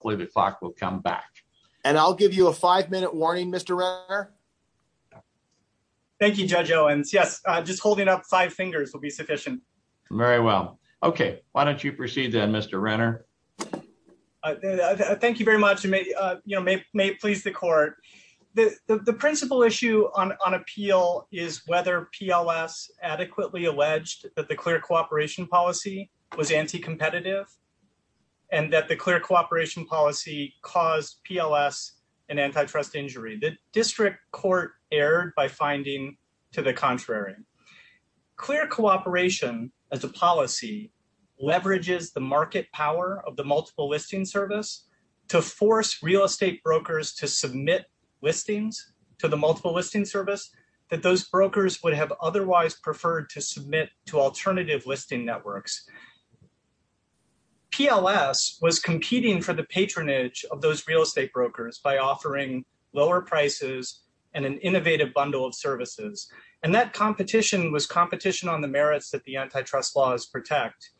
I believe the clock will come back. And I'll give you a five-minute warning, Mr. Renner. Thank you, Judge Owens. Yes, just holding up five fingers will be sufficient. Very well. Okay, why don't you proceed then, Mr. Renner? Thank you very much, and may it please the court. The principal issue on appeal is whether PLS adequately alleged that the clear cooperation policy was anti-competitive, and that the clear cooperation policy caused PLS an antitrust injury. The district court erred by finding to the contrary. Clear cooperation as a policy leverages the market power of the multiple listing service to force real estate brokers to submit listings to the multiple listing service that those brokers would have otherwise preferred to submit to alternative listing networks. PLS was competing for the patronage of those real estate brokers by offering lower prices and an innovative bundle of services. And that competition was competition on the merits that the antitrust laws protect.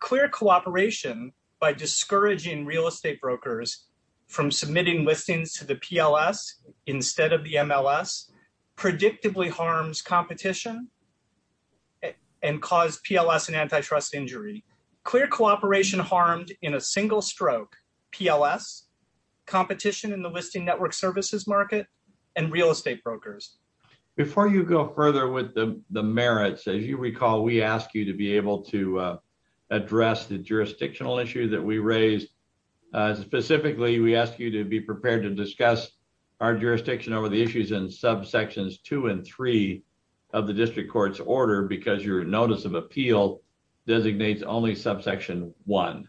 Clear cooperation by discouraging real estate brokers from submitting listings to the PLS instead of the MLS predictably harms competition and cause PLS an antitrust injury. Clear cooperation harmed in a single stroke PLS, competition in the listing network services market, and real estate brokers. Before you go further with the merits, as you recall, we ask you to be able to address the jurisdictional issue that we raised. Specifically, we ask you to be prepared to discuss our jurisdiction over the issues in subsections two and three of the district court's order because your notice of appeal designates only subsection one.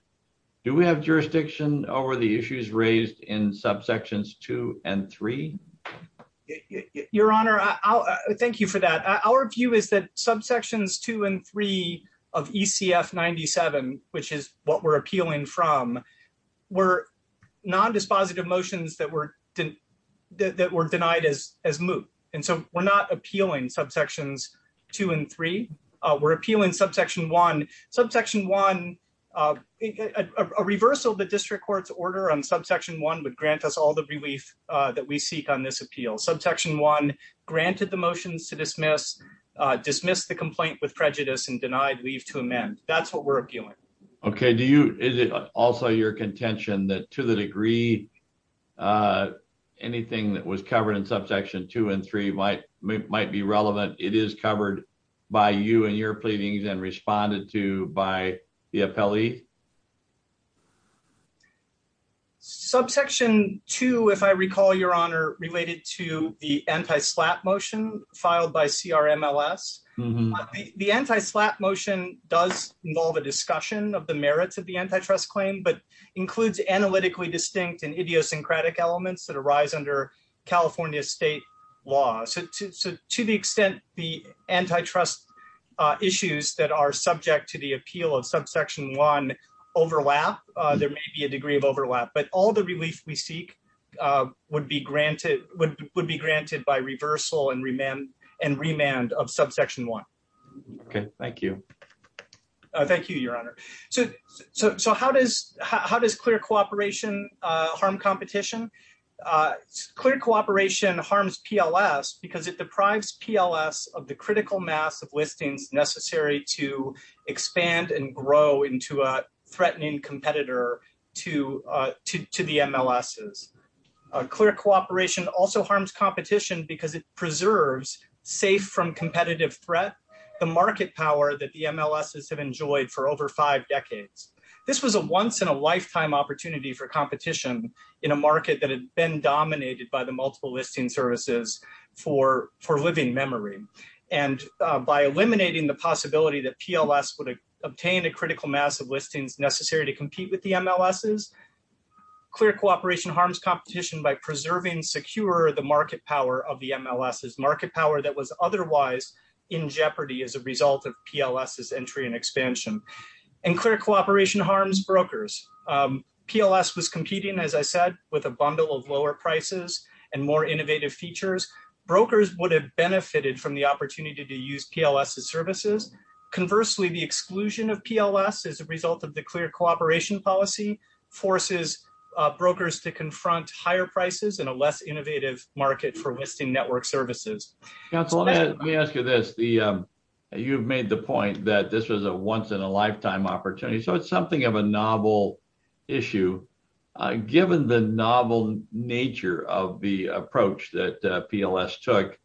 Do we have jurisdiction over the issues raised in subsections two and three? Your Honor, thank you for that. Our view is that subsections two and three of ECF 97, which is what we're appealing from, were non-dispositive motions that were denied as moot. And so we're not appealing subsections two and three. We're appealing subsection one. Subsection one, a reversal of the district court's order on subsection one would grant us all the relief that we seek on this appeal. Subsection one granted the motions to dismiss, dismiss the complaint with prejudice and denied leave to amend. That's what we're appealing. Okay, is it also your contention that to the degree anything that was covered in subsection two and three might be relevant? It is covered by you and your pleadings and responded to by the appellee? Subsection two, if I recall, Your Honor, related to the anti-SLAPP motion filed by CRMLS. The anti-SLAPP motion does involve a discussion of the merits of the antitrust claim, but includes analytically distinct and idiosyncratic elements that arise under California state law. So to the extent the antitrust issues that are subject to the appeal of subsection one overlap, there may be a degree of overlap, but all the relief we seek would be granted by reversal and remand of subsection one. Okay, thank you. Thank you, Your Honor. So how does clear cooperation harm competition? Clear cooperation harms PLS because it deprives PLS of the critical mass of listings necessary to expand and grow into a threatening competitor to the MLSs. Clear cooperation also harms competition because it preserves safe from competitive threat, the market power that the MLSs have enjoyed for over five decades. This was a once in a lifetime opportunity for competition in a market that had been dominated by the multiple listing services for living memory. And by eliminating the possibility that PLS would obtain a critical mass of listings necessary to compete with the MLSs, clear cooperation harms competition by preserving secure the market power of the MLSs, market power that was otherwise in jeopardy as a result of PLSs entry and expansion. And clear cooperation harms brokers. PLS was competing, as I said, with a bundle of lower prices and more innovative features. Brokers would have benefited from the opportunity to use PLS as services. Conversely, the exclusion of PLS as a result of the clear cooperation policy forces brokers to confront higher prices in a less innovative market for listing network services. Counselor, let me ask you this. You've made the point that this was a once in a lifetime opportunity. So it's something of a novel issue. Given the novel nature of the approach that PLS took,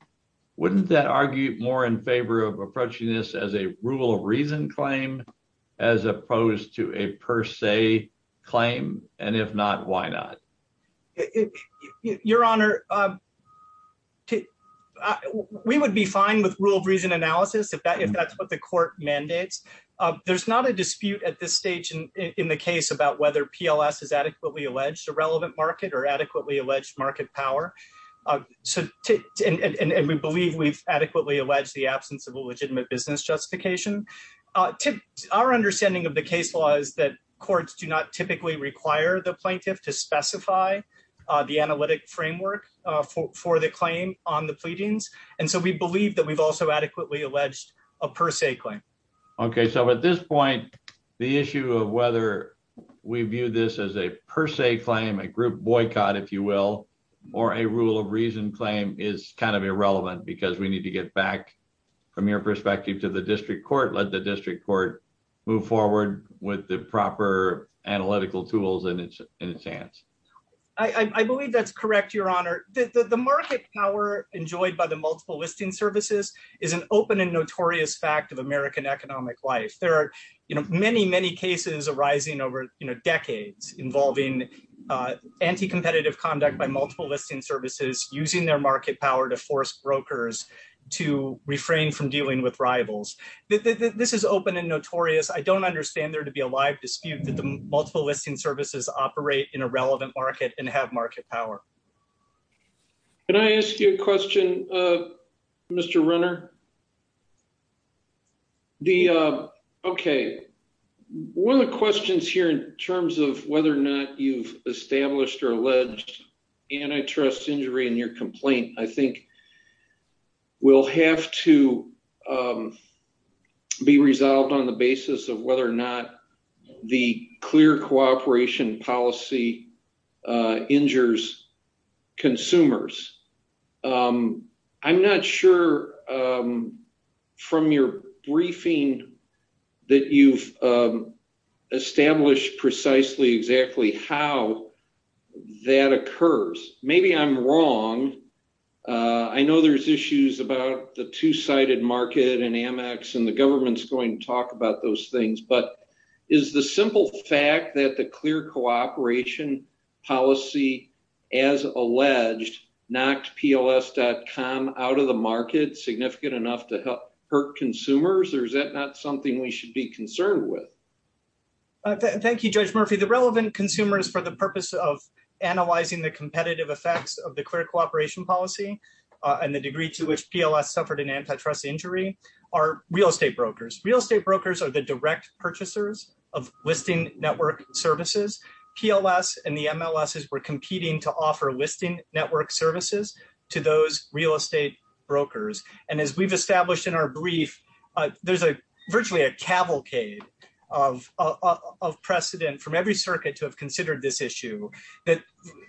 wouldn't that argue more in favor of approaching this as a rule of reason claim as opposed to a per se claim? And if not, why not? Your Honor, we would be fine with rule of reason analysis if that's what the court mandates. There's not a dispute at this stage in the case about whether PLS is adequately alleged a relevant market or adequately alleged market power. So, and we believe we've adequately alleged the absence of a legitimate business justification. Our understanding of the case law is that courts do not typically require the plaintiff to specify the analytic framework for the claim on the pleadings. And so we believe that we've also adequately alleged a per se claim. Okay, so at this point, the issue of whether we view this as a per se claim, a group boycott, if you will, or a rule of reason claim is kind of irrelevant because we need to get back from your perspective to the district court, let the district court move forward with the proper analytical tools in its hands. I believe that's correct, Your Honor. The market power enjoyed by the multiple listing services is an open and notorious fact of American economic life. There are many, many cases arising over decades involving anti-competitive conduct by multiple listing services using their market power to force brokers to refrain from dealing with rivals. This is open and notorious. I don't understand there to be a live dispute that the multiple listing services operate in a relevant market and have market power. Can I ask you a question, Mr. Renner? Okay, one of the questions here in terms of whether or not you've established or alleged antitrust injury in your complaint, I think will have to be resolved on the basis of whether or not the clear cooperation policy injures consumers. I'm not sure from your briefing that you've established precisely exactly how that occurs. Maybe I'm wrong. I know there's issues about the two-sided market and Amex and the government's going to talk about those things, but is the simple fact that the clear cooperation policy, as alleged, knocked PLS.com out of the market significant enough to hurt consumers, or is that not something we should be concerned with? Thank you, Judge Murphy. The relevant consumers for the purpose of analyzing the competitive effects of the clear cooperation policy and the degree to which PLS suffered an antitrust injury are real estate brokers. Real estate brokers are the direct purchasers of listing network services. PLS and the MLSs were competing to offer listing network services to those real estate brokers. And as we've established in our brief, there's virtually a cavalcade of precedent from every circuit to have considered this issue that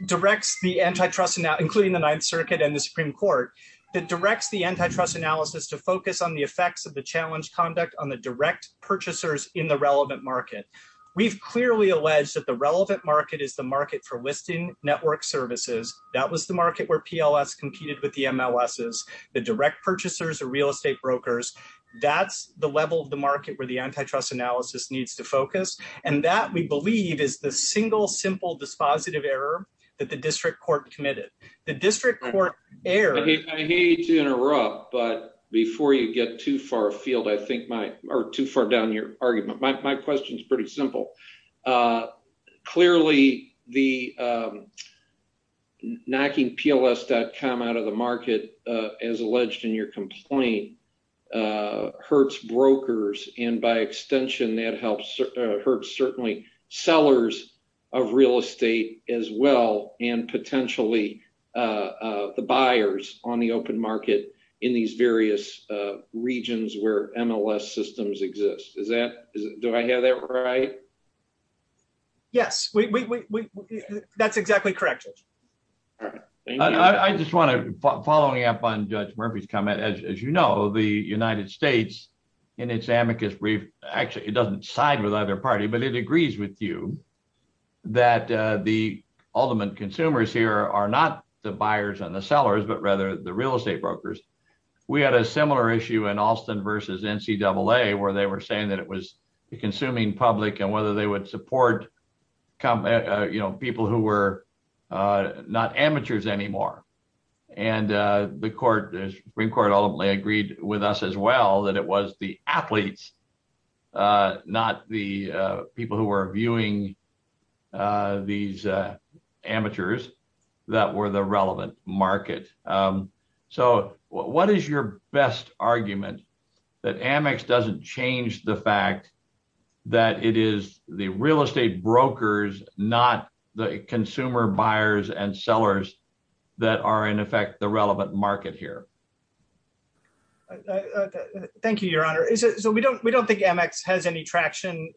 directs the antitrust, including the Ninth Circuit and the Supreme Court, that directs the antitrust analysis to focus on the effects of the challenge conduct on the direct purchasers in the relevant market. We've clearly alleged that the relevant market is the market for listing network services. That was the market where PLS competed with the MLSs. The direct purchasers are real estate brokers. That's the level of the market where the antitrust analysis needs to focus. And that, we believe, is the single simple dispositive error that the district court committed. The district court error- Before you get too far down your argument, my question's pretty simple. Clearly, knocking PLS.com out of the market, as alleged in your complaint, hurts brokers. And by extension, that hurts certainly sellers of real estate as well, and potentially the buyers on the open market in these various regions where MLS systems exist. Is that, do I have that right? Yes, that's exactly correct, Judge. All right, thank you. I just wanna, following up on Judge Murphy's comment, as you know, the United States, in its amicus brief, actually, it doesn't side with either party, but it agrees with you that the ultimate consumers here are not the buyers and the sellers, but rather the real estate brokers. We had a similar issue in Alston versus NCAA, where they were saying that it was the consuming public and whether they would support people who were not amateurs anymore. And the Supreme Court ultimately agreed with us as well that it was the athletes, not the people who were viewing these amateurs that were the relevant market. So what is your best argument that Amex doesn't change the fact that it is the real estate brokers, not the consumer buyers and sellers that are in effect the relevant market here? Thank you, Your Honor. So we don't think Amex has any traction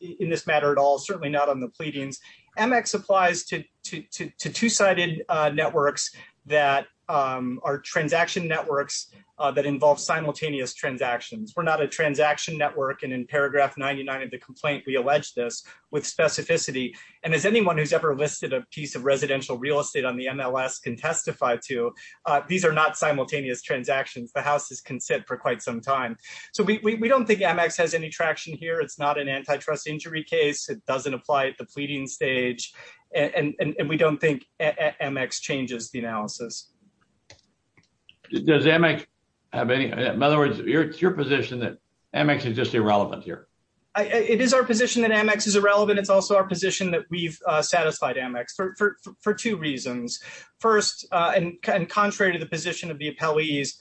in this matter at all, certainly not on the pleadings. Amex applies to two-sided networks that are transaction networks that involve simultaneous transactions. We're not a transaction network. And in paragraph 99 of the complaint, we allege this with specificity. And as anyone who's ever listed a piece of residential real estate on the MLS can testify to, these are not simultaneous transactions. The houses can sit for quite some time. So we don't think Amex has any traction here. It's not an antitrust injury case. It doesn't apply at the pleading stage. And we don't think Amex changes the analysis. Does Amex have any... In other words, it's your position that Amex is just irrelevant here. It is our position that Amex is irrelevant. It's also our position that we've satisfied Amex for two reasons. First, and contrary to the position of the appellees,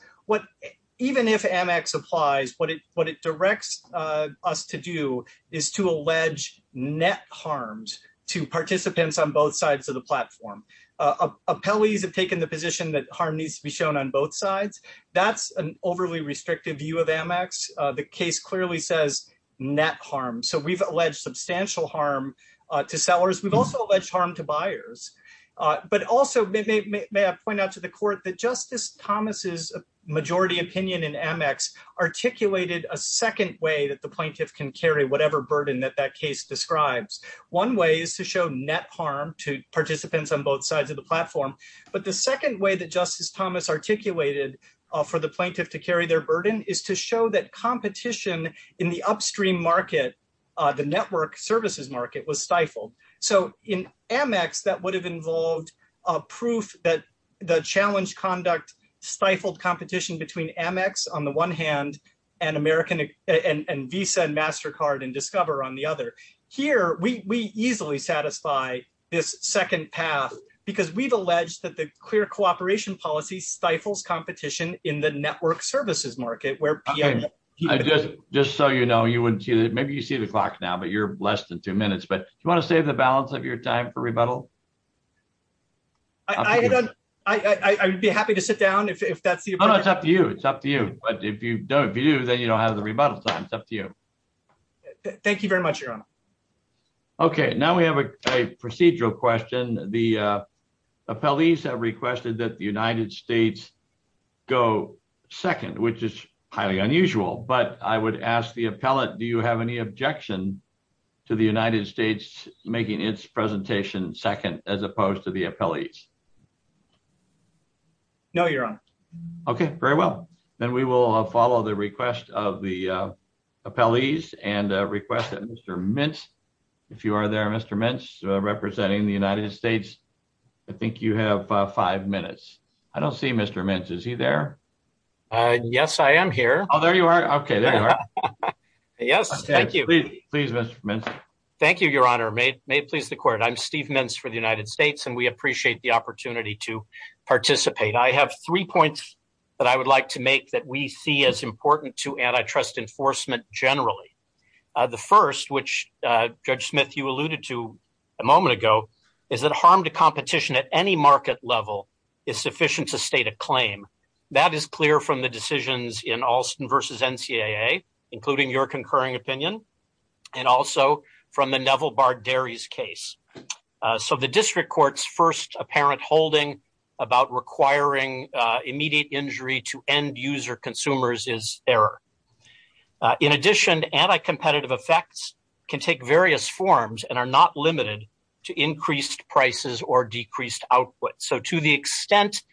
even if Amex applies, what it directs us to do is to allege net harms to participants on both sides of the platform. Appellees have taken the position that harm needs to be shown on both sides. That's an overly restrictive view of Amex. The case clearly says net harm. So we've alleged substantial harm to sellers. We've also alleged harm to buyers. But also, may I point out to the court that Justice Thomas's majority opinion in Amex articulated a second way that the plaintiff can carry whatever burden that that case describes. One way is to show net harm to participants on both sides of the platform. But the second way that Justice Thomas articulated for the plaintiff to carry their burden is to show that competition in the upstream market, the network services market, was stifled. So in Amex, that would have involved proof that the challenge conduct stifled competition between Amex, on the one hand, and Visa and MasterCard and Discover on the other. Here, we easily satisfy this second path because we've alleged that the clear cooperation policy stifles competition in the network services market where people- Just so you know, maybe you see the clock now, but you're less than two minutes. But do you want to save the balance of your time for rebuttal? I would be happy to sit down if that's the- No, no, it's up to you. It's up to you. But if you don't, if you do, then you don't have the rebuttal time. It's up to you. Thank you very much, Your Honor. Okay, now we have a procedural question. The appellees have requested that the United States go second, which is highly unusual. But I would ask the appellate, do you have any objection to the United States making its presentation second as opposed to the appellees? No, Your Honor. Okay, very well. Then we will follow the request of the appellees and request that Mr. Mintz, if you are there, Mr. Mintz, representing the United States. I think you have five minutes. I don't see Mr. Mintz. Is he there? Yes, I am here. Oh, there you are. Okay, there you are. Yes, thank you. Please, Mr. Mintz. Thank you, Your Honor. May it please the court. I'm Steve Mintz for the United States, and we appreciate the opportunity to participate. I have three points that I would like to make that we see as important to antitrust enforcement generally. The first, which Judge Smith, you alluded to a moment ago, is that harm to competition at any market level is sufficient to state a claim. That is clear from the decisions in Alston v. NCAA, including your concurring opinion, and also from the Neville Bar-Derry's case. So the district court's first apparent holding about requiring immediate injury to end-user consumers is error. In addition, anti-competitive effects can take various forms and are not limited to increased prices or decreased output. So to the extent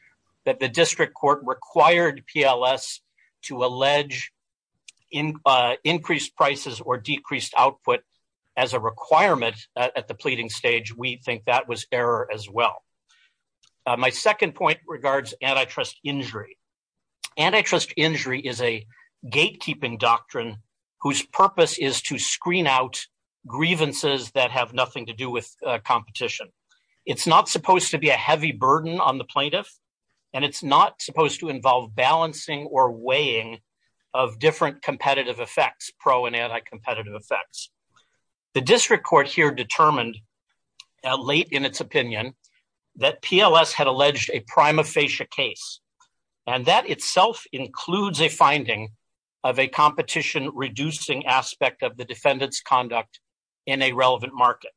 that the district court required PLS to allege increased prices or decreased output as a requirement at the pleading stage, we think that was error as well. My second point regards antitrust injury. Antitrust injury is a gatekeeping doctrine whose purpose is to screen out grievances that have nothing to do with competition. It's not supposed to be a heavy burden on the plaintiff, and it's not supposed to involve balancing or weighing of different competitive effects, pro and anti-competitive effects. The district court here determined, late in its opinion, that PLS had alleged a prima facie case, and that itself includes a finding of a competition-reducing aspect of the defendant's conduct in a relevant market.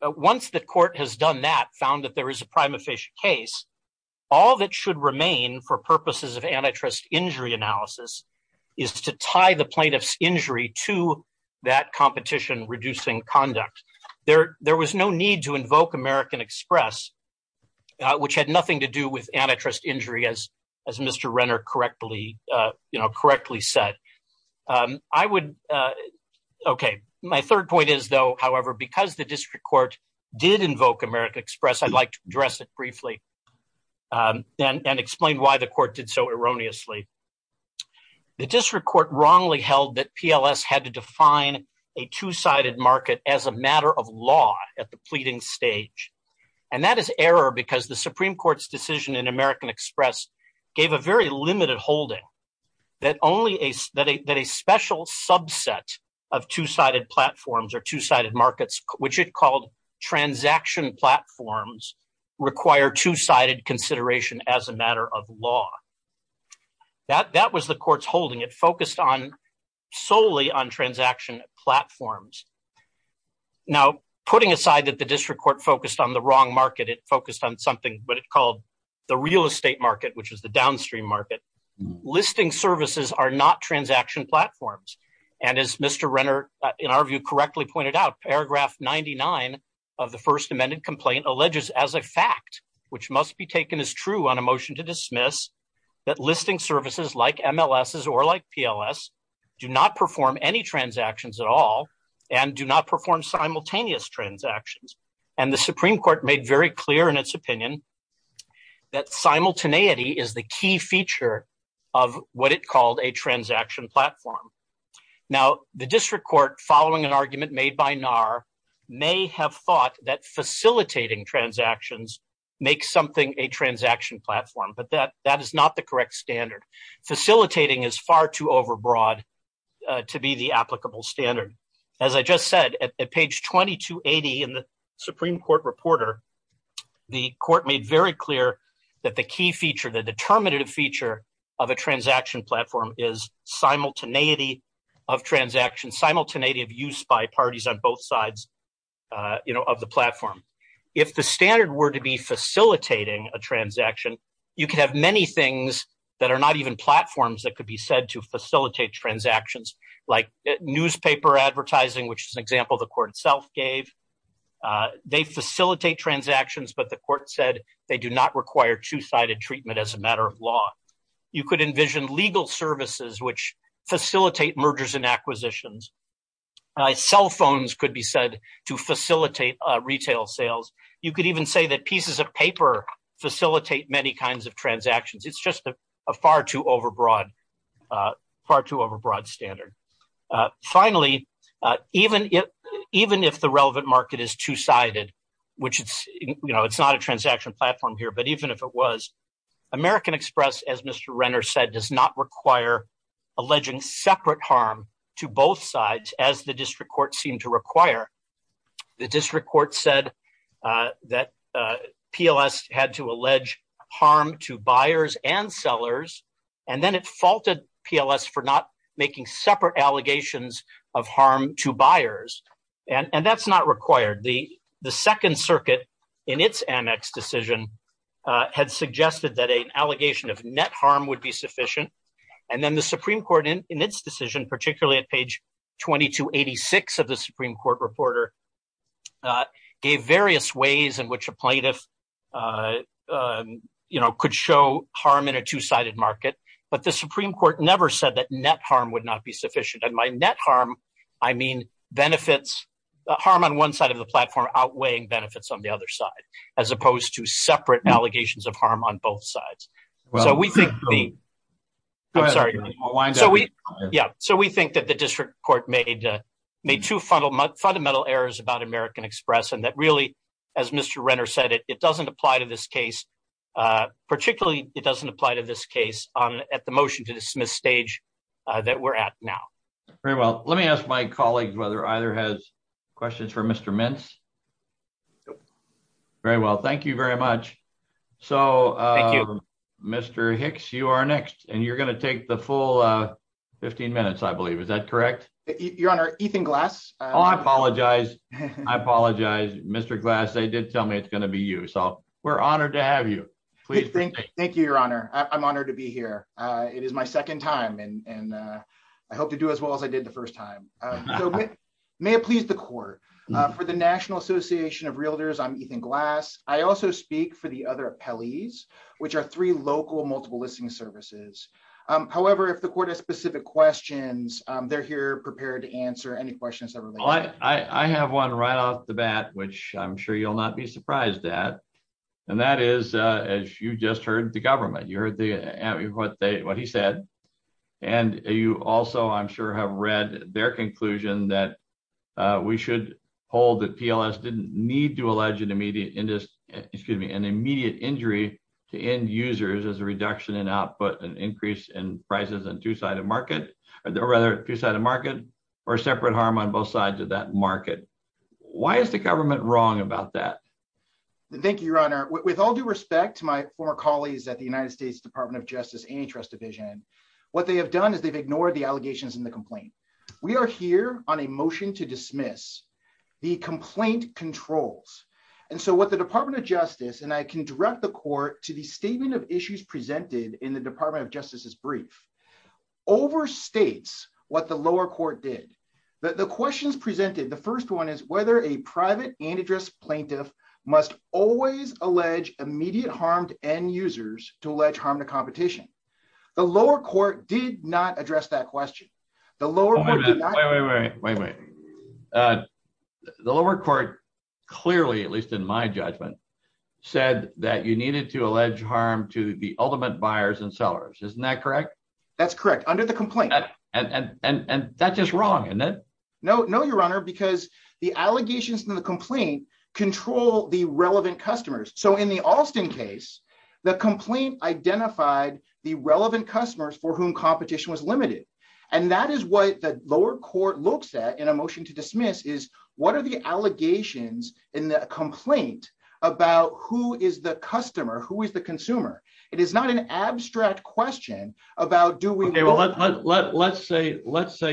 But once the court has done that, found that there is a prima facie case, all that should remain for purposes of antitrust injury analysis is to tie the plaintiff's injury to that competition-reducing conduct. There was no need to invoke American Express, which had nothing to do with antitrust injury, as Mr. Renner correctly said. I would, okay, my third point is, though, however, because the district court did invoke American Express, I'd like to address it briefly, and explain why the court did so erroneously. The district court wrongly held that PLS had to define a two-sided market as a matter of law at the pleading stage. And that is error because the Supreme Court's decision in American Express gave a very limited holding that a special subset of two-sided platforms or two-sided markets, which it called transaction platforms, require two-sided consideration as a matter of law. That was the court's holding. It focused solely on transaction platforms. Now, putting aside that the district court focused on the wrong market, it focused on something that it called the real estate market, which is the downstream market. Listing services are not transaction platforms. And as Mr. Renner, in our view, correctly pointed out, paragraph 99 of the first amended complaint alleges as a fact, which must be taken as true on a motion to dismiss that listing services like MLSs or like PLS, do not perform any transactions at all and do not perform simultaneous transactions. And the Supreme Court made very clear in its opinion that simultaneity is the key feature of what it called a transaction platform. Now, the district court, following an argument made by NAR, may have thought that facilitating transactions makes something a transaction platform, but that is not the correct standard. Facilitating is far too overbroad to be the applicable standard. As I just said, at page 2280 in the Supreme Court Reporter, the court made very clear that the key feature, the determinative feature of a transaction platform is simultaneity of transaction, simultaneity of use by parties on both sides of the platform. If the standard were to be facilitating a transaction, you could have many things that are not even platforms that could be said to facilitate transactions like newspaper advertising, which is an example the court itself gave. They facilitate transactions, but the court said they do not require two-sided treatment as a matter of law. You could envision legal services which facilitate mergers and acquisitions. Cell phones could be said to facilitate retail sales. You could even say that pieces of paper facilitate many kinds of transactions. It's just a far too overbroad standard. Finally, even if the relevant market is two-sided, which it's not a transaction platform here, but even if it was, American Express, as Mr. Renner said, does not require alleging separate harm to both sides as the district court seemed to require. The district court said that PLS had to allege harm to buyers and sellers, and then it faulted PLS for not making separate allegations of harm to buyers. And that's not required. The Second Circuit in its Amex decision had suggested that an allegation of net harm would be sufficient. And then the Supreme Court in its decision, particularly at page 2286 of the Supreme Court Reporter, gave various ways in which a plaintiff could show harm in a two-sided market. But the Supreme Court never said that net harm would not be sufficient. And by net harm, I mean benefits, harm on one side of the platform outweighing benefits on the other side, as opposed to separate allegations of harm on both sides. So we think- I'm sorry. So we think that the district court made two fundamental errors about American Express, and that really, as Mr. Renner said, it doesn't apply to this case. Particularly, it doesn't apply to this case at the motion-to-dismiss stage that we're at now. Very well. Let me ask my colleagues whether either has questions for Mr. Mintz. Very well. Thank you very much. So, Mr. Hicks, you are next, and you're gonna take the full 15 minutes, I believe. Is that correct? Your Honor, Ethan Glass. Oh, I apologize. I apologize, Mr. Glass. They did tell me it's gonna be you. So we're honored to have you. Please proceed. Thank you, Your Honor. I'm honored to be here. It is my second time, and I hope to do as well as I did the first time. So may it please the court. For the National Association of Realtors, I'm Ethan Glass. I also speak for the other appellees, which are three local multiple listing services. However, if the court has specific questions, they're here prepared to answer any questions that are related. I have one right off the bat, which I'm sure you'll not be surprised at. And that is, as you just heard, the government. You heard what he said. And you also, I'm sure, have read their conclusion that we should hold that PLS didn't need to allege an immediate injury to end users as a reduction in output and increase in prices on two-sided market, or rather, two-sided market, or separate harm on both sides of that market. Why is the government wrong about that? Thank you, Your Honor. With all due respect to my former colleagues at the United States Department of Justice and Interest Division, what they have done is they've ignored the allegations in the complaint. We are here on a motion to dismiss the complaint controls. And so what the Department of Justice, and I can direct the court to the statement of issues presented in the Department of Justice's brief, overstates what the lower court did. The questions presented, the first one is whether a private antitrust plaintiff must always allege immediate harm to end users to allege harm to competition. The lower court did not address that question. The lower court did not- Wait, wait, wait, wait, wait, wait. The lower court clearly, at least in my judgment, said that you needed to allege harm to the ultimate buyers and sellers. Isn't that correct? That's correct, under the complaint. And that's just wrong, isn't it? No, no, Your Honor, because the allegations in the complaint control the relevant customers. So in the Alston case, the complaint identified the relevant customers for whom competition was limited. And that is what the lower court looks at in a motion to dismiss is what are the allegations in the complaint about who is the customer, who is the consumer? It is not an abstract question about do we- Okay, well, let's say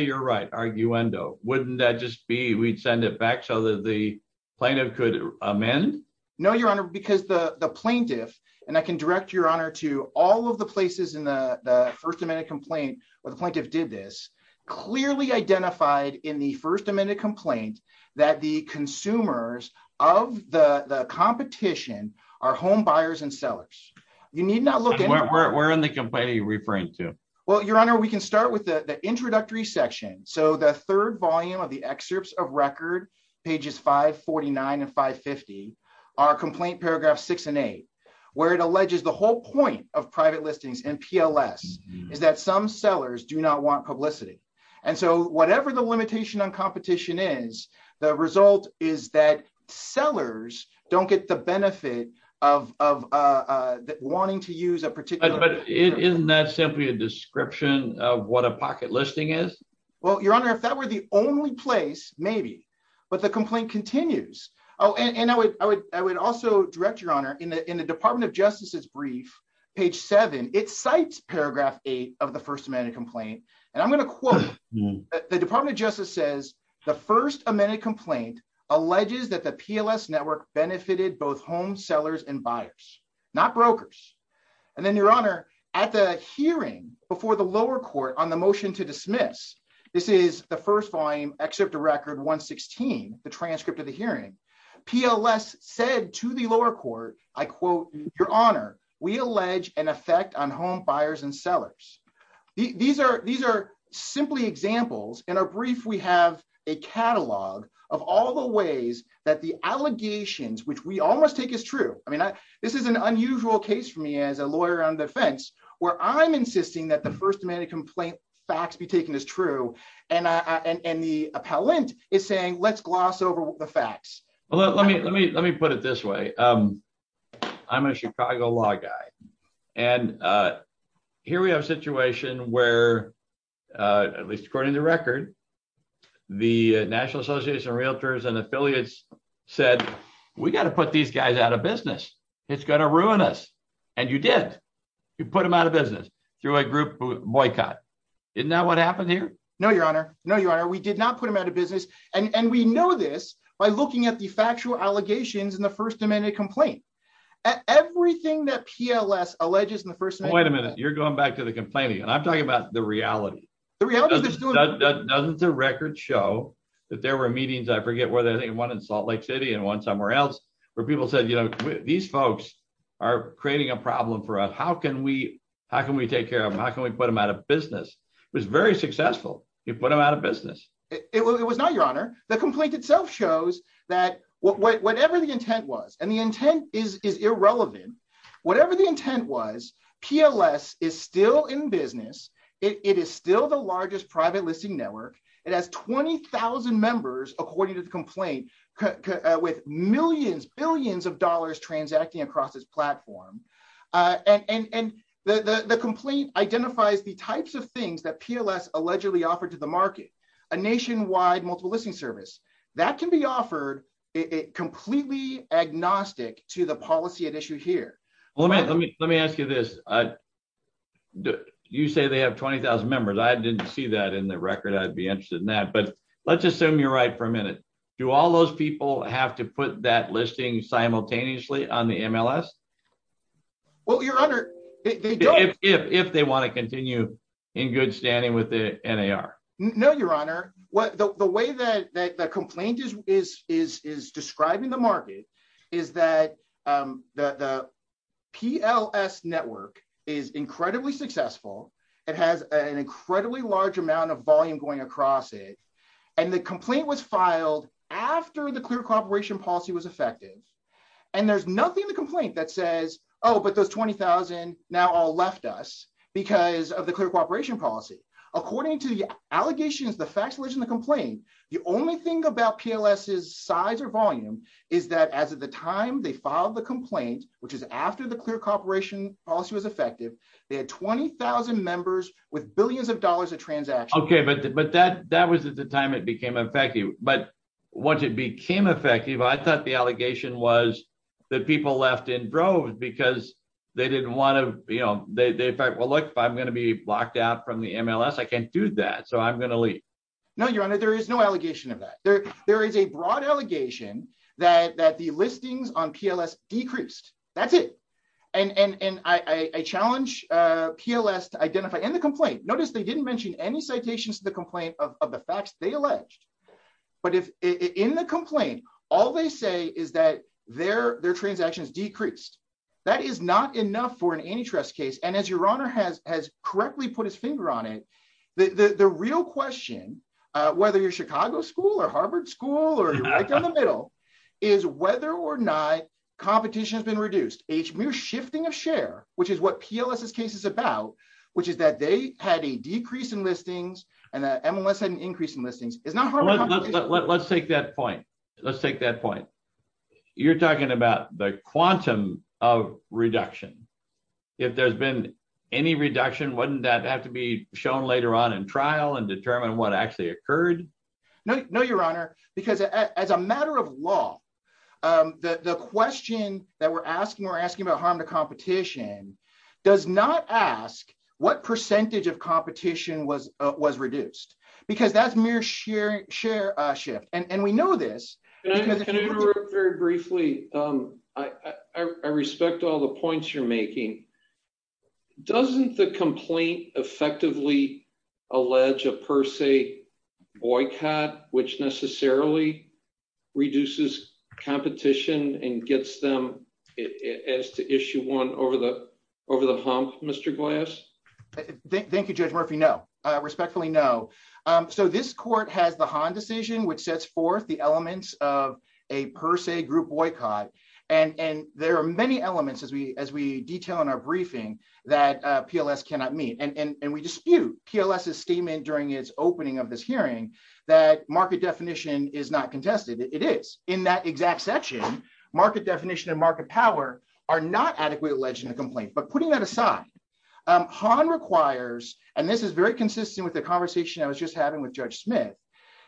you're right, arguendo. Wouldn't that just be we'd send it back so that the plaintiff could amend? No, Your Honor, because the plaintiff, and I can direct Your Honor to all of the places in the first amendment complaint where the plaintiff did this, clearly identified in the first amendment complaint that the consumers of the competition are home buyers and sellers. You need not look at- Where in the complaint are you referring to? Well, Your Honor, we can start with the introductory section. So the third volume of the excerpts of record, pages 549 and 550, are complaint paragraph six and eight, where it alleges the whole point of private listings and PLS is that some sellers do not want publicity. And so whatever the limitation on competition is, the result is that sellers don't get the benefit of wanting to use a particular- But isn't that simply a description of what a pocket listing is? Well, Your Honor, if that were the only place, maybe, but the complaint continues. Oh, and I would also direct Your Honor, in the Department of Justice's brief, page seven, it cites paragraph eight of the first amendment complaint. And I'm gonna quote, the Department of Justice says, the first amendment complaint alleges that the PLS network benefited both home sellers and buyers, not brokers. And then Your Honor, at the hearing before the lower court on the motion to dismiss, this is the first volume, excerpt of record 116, the transcript of the hearing, PLS said to the lower court, I quote, Your Honor, we allege an effect on home buyers and sellers. These are simply examples. In our brief, we have a catalog of all the ways that the allegations, which we all must take as true. I mean, this is an unusual case for me as a lawyer on defense, where I'm insisting that the first amendment complaint facts be taken as true. And the appellant is saying, let's gloss over the facts. Well, let me put it this way. I'm a Chicago law guy. And here we have a situation where, at least according to record, the National Association of Realtors and Affiliates said, we gotta put these guys out of business. It's gonna ruin us. And you did, you put them out of business through a group boycott. Isn't that what happened here? No, Your Honor. No, Your Honor, we did not put them out of business. And we know this by looking at the factual allegations in the first amendment complaint. Everything that PLS alleges in the first amendment- Wait a minute. You're going back to the complaining. And I'm talking about the reality. The reality is there's still- Doesn't the record show that there were meetings, I forget where, I think one in Salt Lake City and one somewhere else, where people said, these folks are creating a problem for us. How can we take care of them? How can we put them out of business? It was very successful. You put them out of business. It was not, Your Honor. The complaint itself shows that, whatever the intent was, and the intent is irrelevant. Whatever the intent was, PLS is still in business. It is still the largest private listing network. It has 20,000 members, according to the complaint, with millions, billions of dollars transacting across its platform. And the complaint identifies the types of things that PLS allegedly offered to the market, a nationwide multiple listing service. That can be offered completely agnostic to the policy at issue here. Well, let me ask you this. You say they have 20,000 members. I didn't see that in the record. I'd be interested in that, but let's assume you're right for a minute. Do all those people have to put that listing simultaneously on the MLS? Well, Your Honor, they don't. If they want to continue in good standing with the NAR. No, Your Honor. The way that the complaint is describing the market is that the PLS network is incredibly successful. It has an incredibly large amount of volume going across it. And the complaint was filed after the clear cooperation policy was effective. And there's nothing in the complaint that says, oh, but those 20,000 now all left us because of the clear cooperation policy. According to the allegations, the facts, legislation, and the complaint, the only thing about PLS's size or volume is that as of the time they filed the complaint, which is after the clear cooperation policy was effective, they had 20,000 members with billions of dollars of transactions. Okay, but that was at the time it became effective. But once it became effective, I thought the allegation was that people left in droves because they didn't want to, you know, they thought, well, look, if I'm gonna be blocked out from the MLS, I can't do that, so I'm gonna leave. No, Your Honor, there is no allegation of that. There is a broad allegation that the listings on PLS decreased, that's it. And I challenge PLS to identify, in the complaint, notice they didn't mention any citations to the complaint of the facts they alleged. But in the complaint, all they say is that their transactions decreased. That is not enough for an antitrust case. And as Your Honor has correctly put his finger on it, the real question, whether you're Chicago school or Harvard school, or you're right down the middle, is whether or not competition has been reduced. A mere shifting of share, which is what PLS's case is about, which is that they had a decrease in listings and that MLS had an increase in listings, is not Harvard competition. Let's take that point. Let's take that point. You're talking about the quantum of reduction. If there's been any reduction, wouldn't that have to be shown later on in trial and determine what actually occurred? No, Your Honor, because as a matter of law, the question that we're asking, we're asking about harm to competition, does not ask what percentage of competition was reduced. Because that's mere share shift. And we know this- Can I interrupt very briefly? I respect all the points you're making. Doesn't the complaint effectively allege a per se boycott, which necessarily reduces competition and gets them as to issue one over the hump, Mr. Glass? Thank you, Judge Murphy. No, respectfully, no. So this court has the Hahn decision, which sets forth the elements of a per se group boycott. And there are many elements as we detail in our briefing that PLS cannot meet. And we dispute PLS' statement during its opening of this hearing that market definition is not contested. It is. In that exact section, market definition and market power are not adequately alleged in the complaint. But putting that aside, Hahn requires, and this is very consistent with the conversation I was just having with Judge Smith,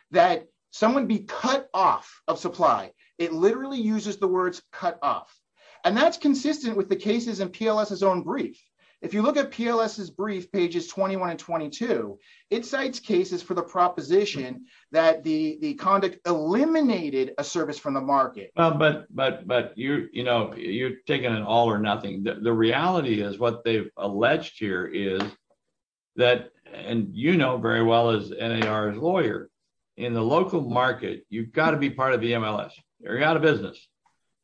that someone be cut off of supply. It literally uses the words cut off. And that's consistent with the cases in PLS' own brief. If you look at PLS' brief, pages 21 and 22, it cites cases for the proposition that the conduct eliminated a service from the market. Well, but you're taking an all or nothing. The reality is what they've alleged here is that, and you know very well as NAR's lawyer, in the local market, you've got to be part of the MLS. You're out of business.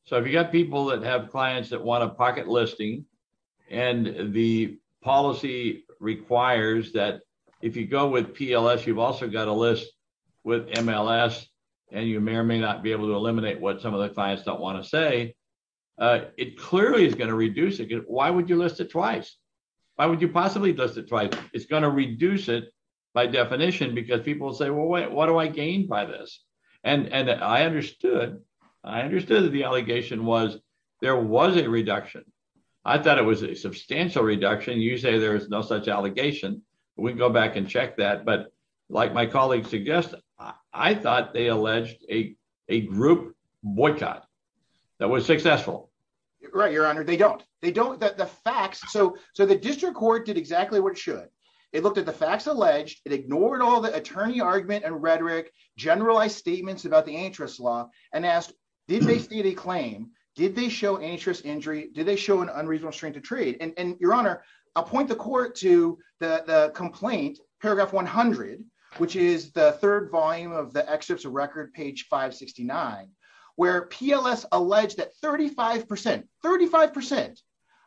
So if you've got people that have clients that want a pocket listing, and the policy requires that if you go with PLS, you've also got a list with MLS, and you may or may not be able to eliminate what some of the clients don't want to say, it clearly is going to reduce it. Why would you list it twice? Why would you possibly list it twice? It's going to reduce it by definition, because people say, well, what do I gain by this? And I understood, I understood that the allegation was there was a reduction. I thought it was a substantial reduction. You say there is no such allegation. We can go back and check that. But like my colleague suggested, I thought they alleged a group boycott that was successful. Right, Your Honor, they don't. They don't, the facts, so the district court did exactly what it should. It looked at the facts alleged, it ignored all the attorney argument and rhetoric, generalized statements about the antitrust law, and asked, did they state a claim? Did they show antitrust injury? Did they show an unreasonable strength to trade? And Your Honor, I'll point the court to the complaint, paragraph 100, which is the third volume of the excerpts of record, page 569, where PLS alleged that 35%, 35%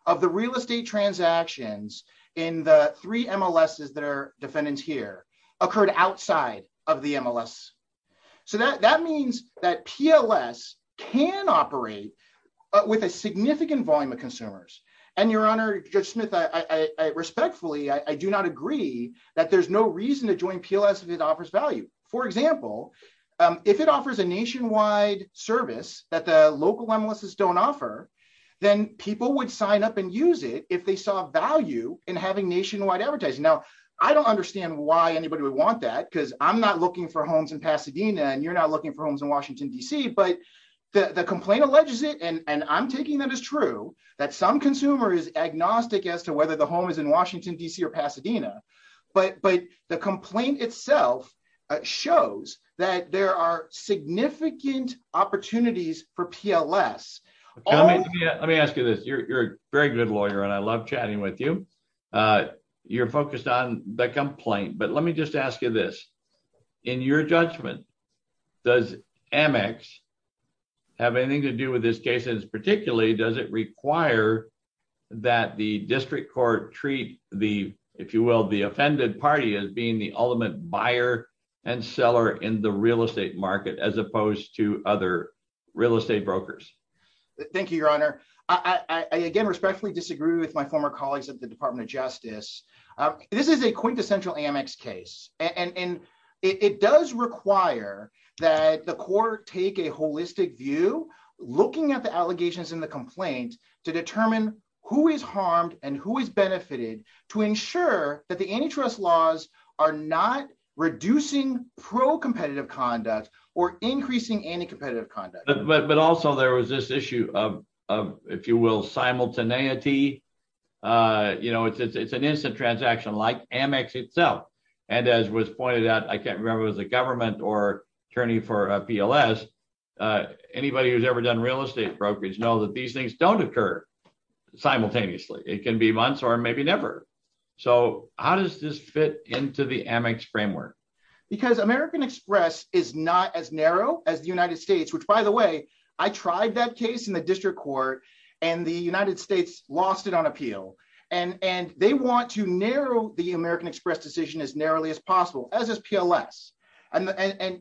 of the real estate transactions in the three MLSs that are defendants here occurred outside of the MLS. So that means that PLS can operate with a significant volume of consumers. And Your Honor, Judge Smith, I respectfully, I do not agree that there's no reason to join PLS if it offers value. For example, if it offers a nationwide service that the local MLSs don't offer, then people would sign up and use it if they saw value in having nationwide advertising. Now, I don't understand why anybody would want that, because I'm not looking for homes in Pasadena, and you're not looking for homes in Washington, D.C., but the complaint alleges it, and I'm taking that as true, that some consumer is agnostic as to whether the home is in Washington, D.C. or Pasadena. But the complaint itself shows that there are significant opportunities for PLS. Let me ask you this. You're a very good lawyer, and I love chatting with you. You're focused on the complaint, but let me just ask you this. In your judgment, does Amex have anything to do with this case, and particularly, does it require that the district court treat the, if you will, the offended party as being the ultimate buyer and seller in the real estate market, as opposed to other real estate brokers? Thank you, Your Honor. I, again, respectfully disagree with my former colleagues at the Department of Justice. This is a quintessential Amex case, and it does require that the court take a holistic view, looking at the allegations in the complaint to determine who is harmed and who is benefited to ensure that the antitrust laws are not reducing pro-competitive conduct or increasing anti-competitive conduct. But also, there was this issue of, if you will, simultaneity. You know, it's an instant transaction, like Amex itself. And as was pointed out, I can't remember if it was the government or attorney for PLS. Anybody who's ever done real estate brokerage knows that these things don't occur simultaneously. It can be months or maybe never. So how does this fit into the Amex framework? Because American Express is not as narrow as the United States, which, by the way, I tried that case in the district court, and the United States lost it on appeal. And they want to narrow the American Express decision as narrowly as possible, as is PLS. And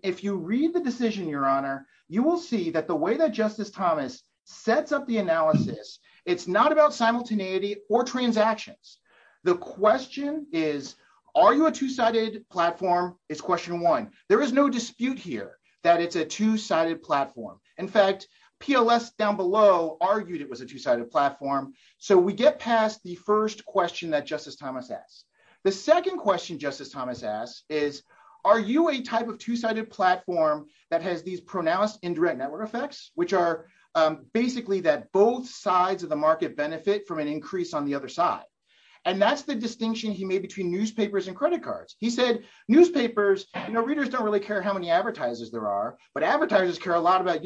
if you read the decision, Your Honor, you will see that the way that Justice Thomas sets up the analysis, it's not about simultaneity or transactions. The question is, are you a two-sided platform? It's question one. There is no dispute here that it's a two-sided platform. In fact, PLS down below argued it was a two-sided platform. So we get past the first question that Justice Thomas asked. The second question Justice Thomas asked is, are you a type of two-sided platform that has these pronounced indirect network effects, which are basically that both sides of the market benefit from an increase on the other side. And that's the distinction he made between newspapers and credit cards. He said, newspapers, you know, readers don't really care how many advertisers there are, but advertisers care a lot about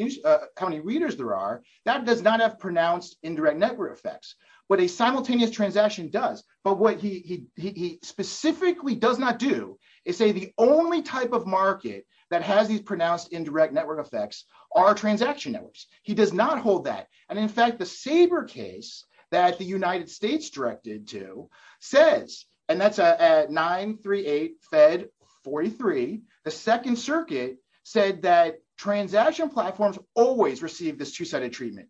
how many readers there are. That does not have pronounced indirect network effects. What a simultaneous transaction does, but what he specifically does not do is say the only type of market that has these pronounced indirect network effects are transaction networks. He does not hold that. And in fact, the Sabre case that the United States directed to says, and that's at 938 Fed 43, the second circuit said that transaction platforms always receive this two-sided treatment.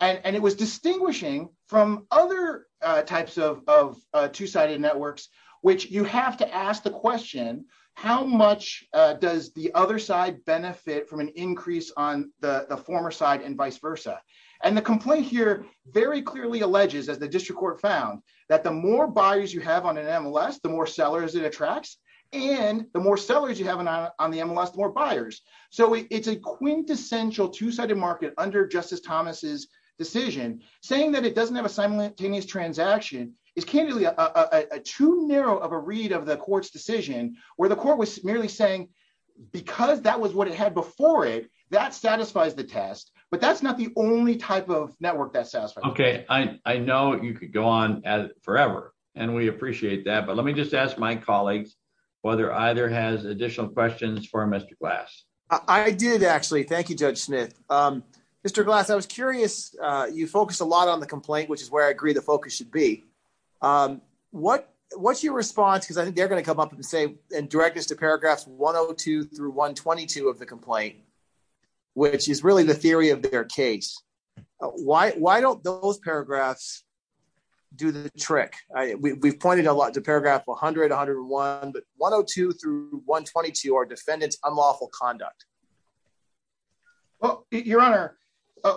And it was distinguishing from other types of two-sided networks, which you have to ask the question, how much does the other side benefit from an increase on the former side and vice versa? And the complaint here very clearly alleges, as the district court found, that the more buyers you have on an MLS, the more sellers it attracts, and the more sellers you have on the MLS, the more buyers. So it's a quintessential two-sided market under Justice Thomas's decision. Saying that it doesn't have a simultaneous transaction is candidly too narrow of a read of the court's decision, where the court was merely saying, because that was what it had before it, that satisfies the test, but that's not the only type of network that satisfies. Okay, I know you could go on forever, and we appreciate that, but let me just ask my colleagues whether either has additional questions for Mr. Glass. I did actually, thank you, Judge Smith. Mr. Glass, I was curious, you focused a lot on the complaint, which is where I agree the focus should be. What's your response? Because I think they're gonna come up and say, and direct us to paragraphs 102 through 122 of the complaint, which is really the theory of their case. Why don't those paragraphs do the trick? We've pointed a lot to paragraph 100, 101, but 102 through 122 are defendant's unlawful conduct. Well, Your Honor,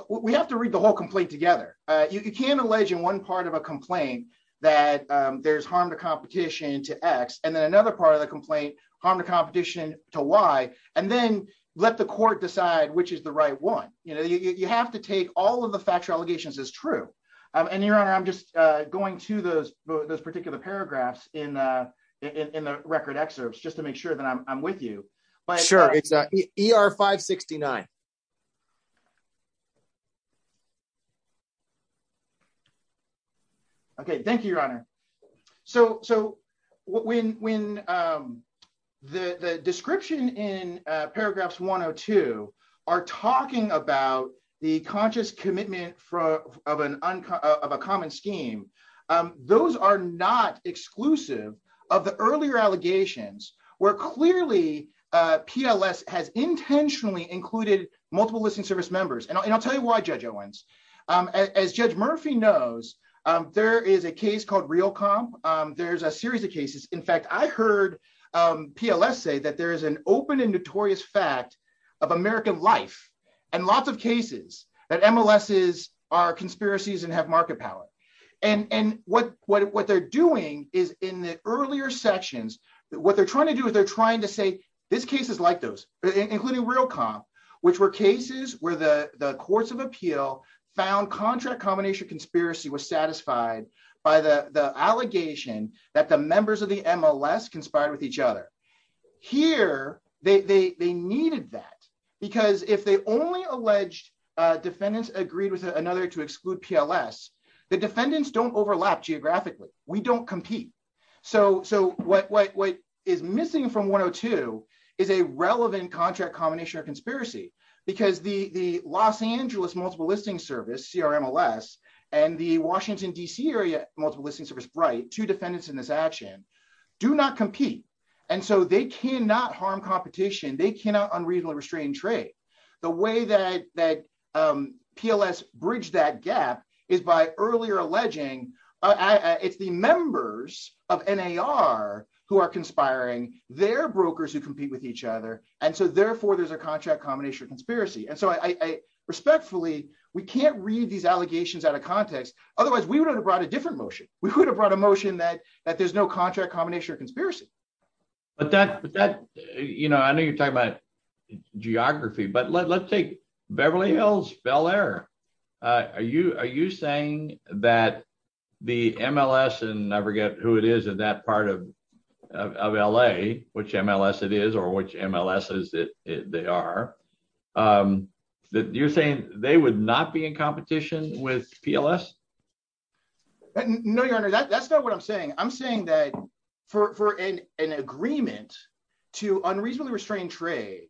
we have to read the whole complaint together. You can't allege in one part of a complaint that there's harm to competition to X, and then another part of the complaint, harm to competition to Y, and then let the court decide which is the right one. You have to take all of the factual allegations as true. And Your Honor, I'm just going to those particular paragraphs in the record excerpts, just to make sure that I'm with you. Sure, it's ER 569. Okay, thank you, Your Honor. So when the description in paragraphs 102 are talking about the conscious commitment of a common scheme, those are not exclusive of the earlier allegations where clearly PLS has intentionally included multiple listening service members. And I'll tell you why, Judge Owens. As Judge Murphy knows, there is a case called Real Comp. There's a series of cases. In fact, I heard PLS say that there is an open and notorious fact of American life and lots of cases that MLSs are conspiracies and have market power. And what they're doing is in the earlier sections, what they're trying to do is they're trying to say, this case is like those, including Real Comp, which were cases where the courts of appeal found contract combination conspiracy was satisfied by the allegation that the members of the MLS conspired with each other. Here, they needed that because if they only alleged defendants agreed with another to exclude PLS, the defendants don't overlap geographically. We don't compete. So what is missing from 102 is a relevant contract combination of conspiracy because the Los Angeles Multiple Listing Service, CRMLS, and the Washington DC Area Multiple Listing Service, BRITE, two defendants in this action, do not compete. And so they cannot harm competition. They cannot unreasonably restrain trade. The way that PLS bridged that gap is by earlier alleging, it's the members of NAR who are conspiring. They're brokers who compete with each other. And so therefore, there's a contract combination of conspiracy. And so I respectfully, we can't read these allegations out of context. Otherwise we would have brought a different motion. We could have brought a motion that there's no contract combination of conspiracy. But that, you know, I know you're talking about geography, but let's take Beverly Hills, Bel Air. Are you saying that the MLS, and I forget who it is in that part of LA, which MLS it is or which MLS they are, that you're saying they would not be in competition with PLS? No, your honor, that's not what I'm saying. I'm saying that for an agreement to unreasonably restrain trade,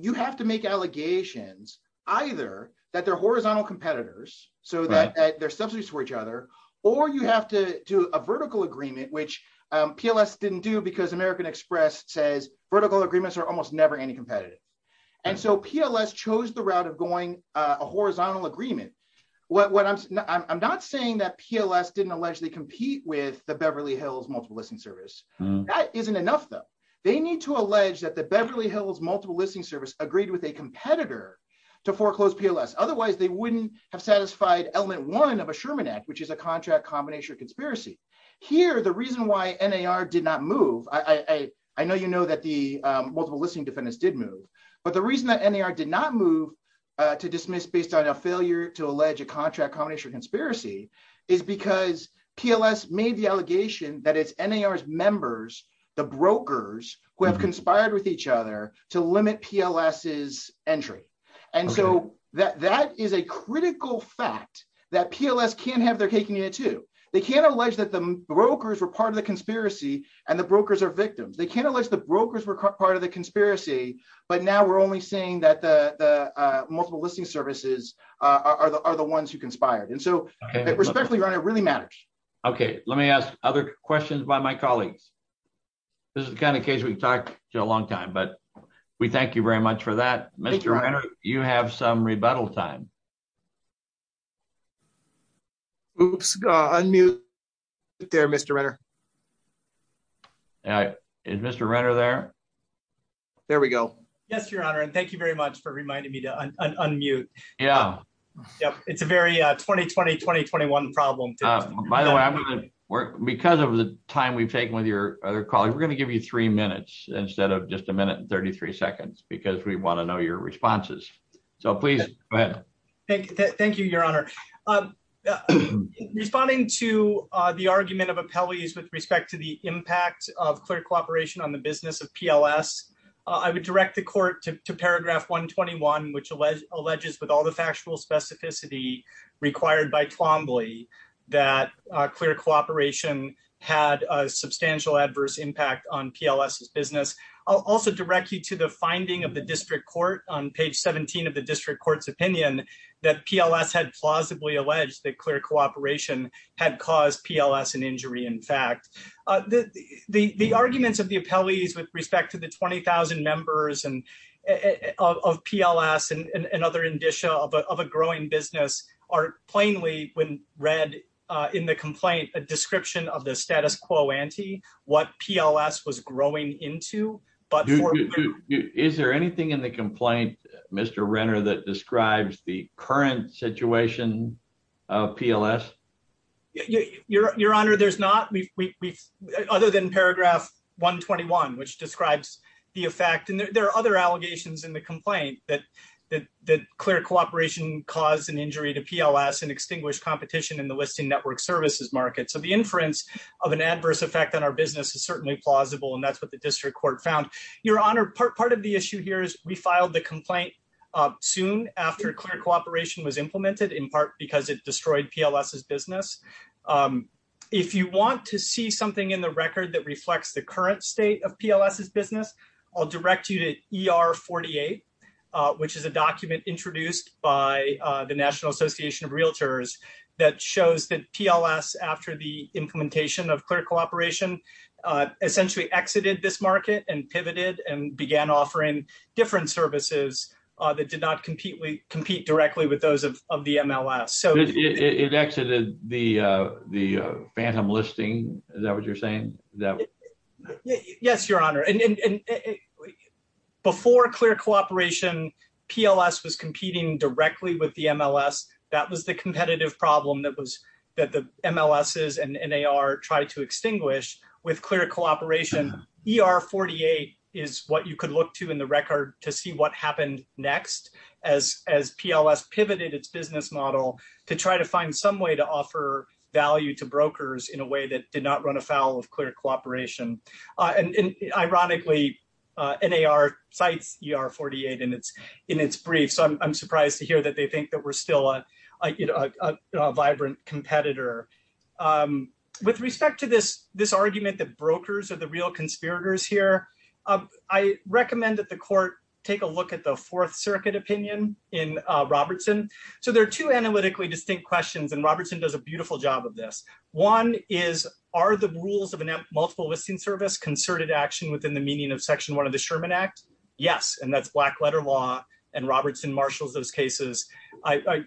you have to make allegations either that they're horizontal competitors so that they're subsidies for each other, or you have to do a vertical agreement, which PLS didn't do because American Express says vertical agreements are almost never any competitive. And so PLS chose the route of going a horizontal agreement. I'm not saying that PLS didn't allegedly compete with the Beverly Hills Multiple Listing Service. That isn't enough though. They need to allege that the Beverly Hills Multiple Listing Service agreed with a competitor to foreclose PLS. Otherwise they wouldn't have satisfied element one of a Sherman Act, which is a contract combination conspiracy. Here, the reason why NAR did not move, I know you know that the multiple listing defendants did move, but the reason that NAR did not move to dismiss based on a failure to allege a contract combination conspiracy is because PLS made the allegation that it's NAR's members, the brokers, who have conspired with each other to limit PLS's entry. And so that is a critical fact that PLS can't have their cake and eat it too. They can't allege that the brokers were part of the conspiracy and the brokers are victims. They can't allege the brokers were part of the conspiracy, but now we're only saying that the multiple listing services are the ones who conspired. And so respectfully, Your Honor, it really matters. Okay, let me ask other questions by my colleagues. This is the kind of case we've talked to a long time, but we thank you very much for that. Mr. Reiner, you have some rebuttal time. Oops, unmute there, Mr. Reiner. All right, is Mr. Reiner there? There we go. Yes, Your Honor, and thank you very much for reminding me to unmute. Yeah. Yep, it's a very 2020, 2021 problem. By the way, because of the time we've taken with your other colleagues, we're gonna give you three minutes instead of just a minute and 33 seconds because we wanna know your responses. So please, go ahead. Thank you, Your Honor. Responding to the argument of appellees with respect to the impact of clear cooperation on the business of PLS, I would direct the court to paragraph 121, which alleges with all the factual specificity required by Twombly that clear cooperation had a substantial adverse impact on PLS's business. I'll also direct you to the finding of the district court on page 17 of the district court's opinion that PLS had plausibly alleged that clear cooperation had caused PLS an injury, in fact. The arguments of the appellees with respect to the 20,000 members of PLS and other indicia of a growing business are plainly when read in the complaint, a description of the status quo ante, what PLS was growing into, but for- Is there anything in the complaint, Mr. Reiner, that describes the current situation of PLS? Your Honor, there's not, other than paragraph 121, which describes the effect, and there are other allegations in the complaint that clear cooperation caused an injury to PLS and extinguished competition in the listing network services market. So the inference of an adverse effect on our business is certainly plausible, and that's what the district court found. Your Honor, part of the issue here is we filed the complaint soon after clear cooperation was implemented, in part because it destroyed PLS's business. If you want to see something in the record that reflects the current state of PLS's business, I'll direct you to ER 48, which is a document introduced by the National Association of Realtors that shows that PLS, after the implementation of clear cooperation, essentially exited this market and pivoted and began offering different services that did not compete directly with those of the MLS. It exited the phantom listing, is that what you're saying? Yes, Your Honor. Before clear cooperation, PLS was competing directly with the MLS. That was the competitive problem that the MLSs and NAR tried to extinguish. With clear cooperation, ER 48 is what you could look to in the record to see what happened next as PLS pivoted its business model to try to find some way to offer value to brokers in a way that did not run afoul of clear cooperation. Ironically, NAR cites ER 48 in its brief, so I'm surprised to hear that they think that we're still a vibrant competitor. With respect to this argument that brokers are the real conspirators here, I recommend that the court take a look at the Fourth Circuit opinion in Robertson. So there are two analytically distinct questions, and Robertson does a beautiful job of this. One is, are the rules of a multiple listing service concerted action within the meaning of section one of the Sherman Act? Yes, and that's black letter law, and Robertson marshals those cases. I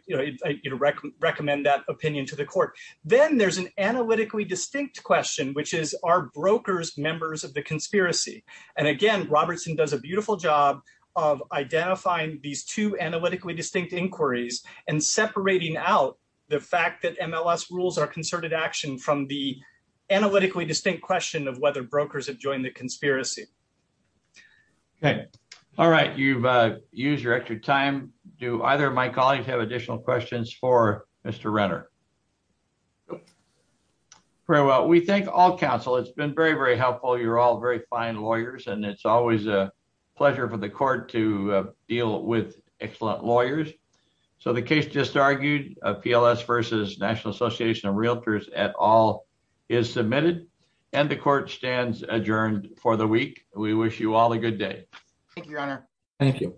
recommend that opinion to the court. Then there's an analytically distinct question, which is, are brokers members of the conspiracy? And again, Robertson does a beautiful job of identifying these two analytically distinct inquiries and separating out the fact that MLS rules are concerted action from the analytically distinct question of whether brokers have joined the conspiracy. Okay, all right, you've used your extra time. Do either of my colleagues have additional questions for Mr. Renner? Nope. Very well, we thank all counsel. It's been very, very helpful. You're all very fine lawyers, and it's always a pleasure for the court to deal with excellent lawyers. So the case just argued, PLS versus National Association of Realtors et al. is submitted, and the court stands adjourned for the week. We wish you all a good day. Thank you, Your Honor. Thank you.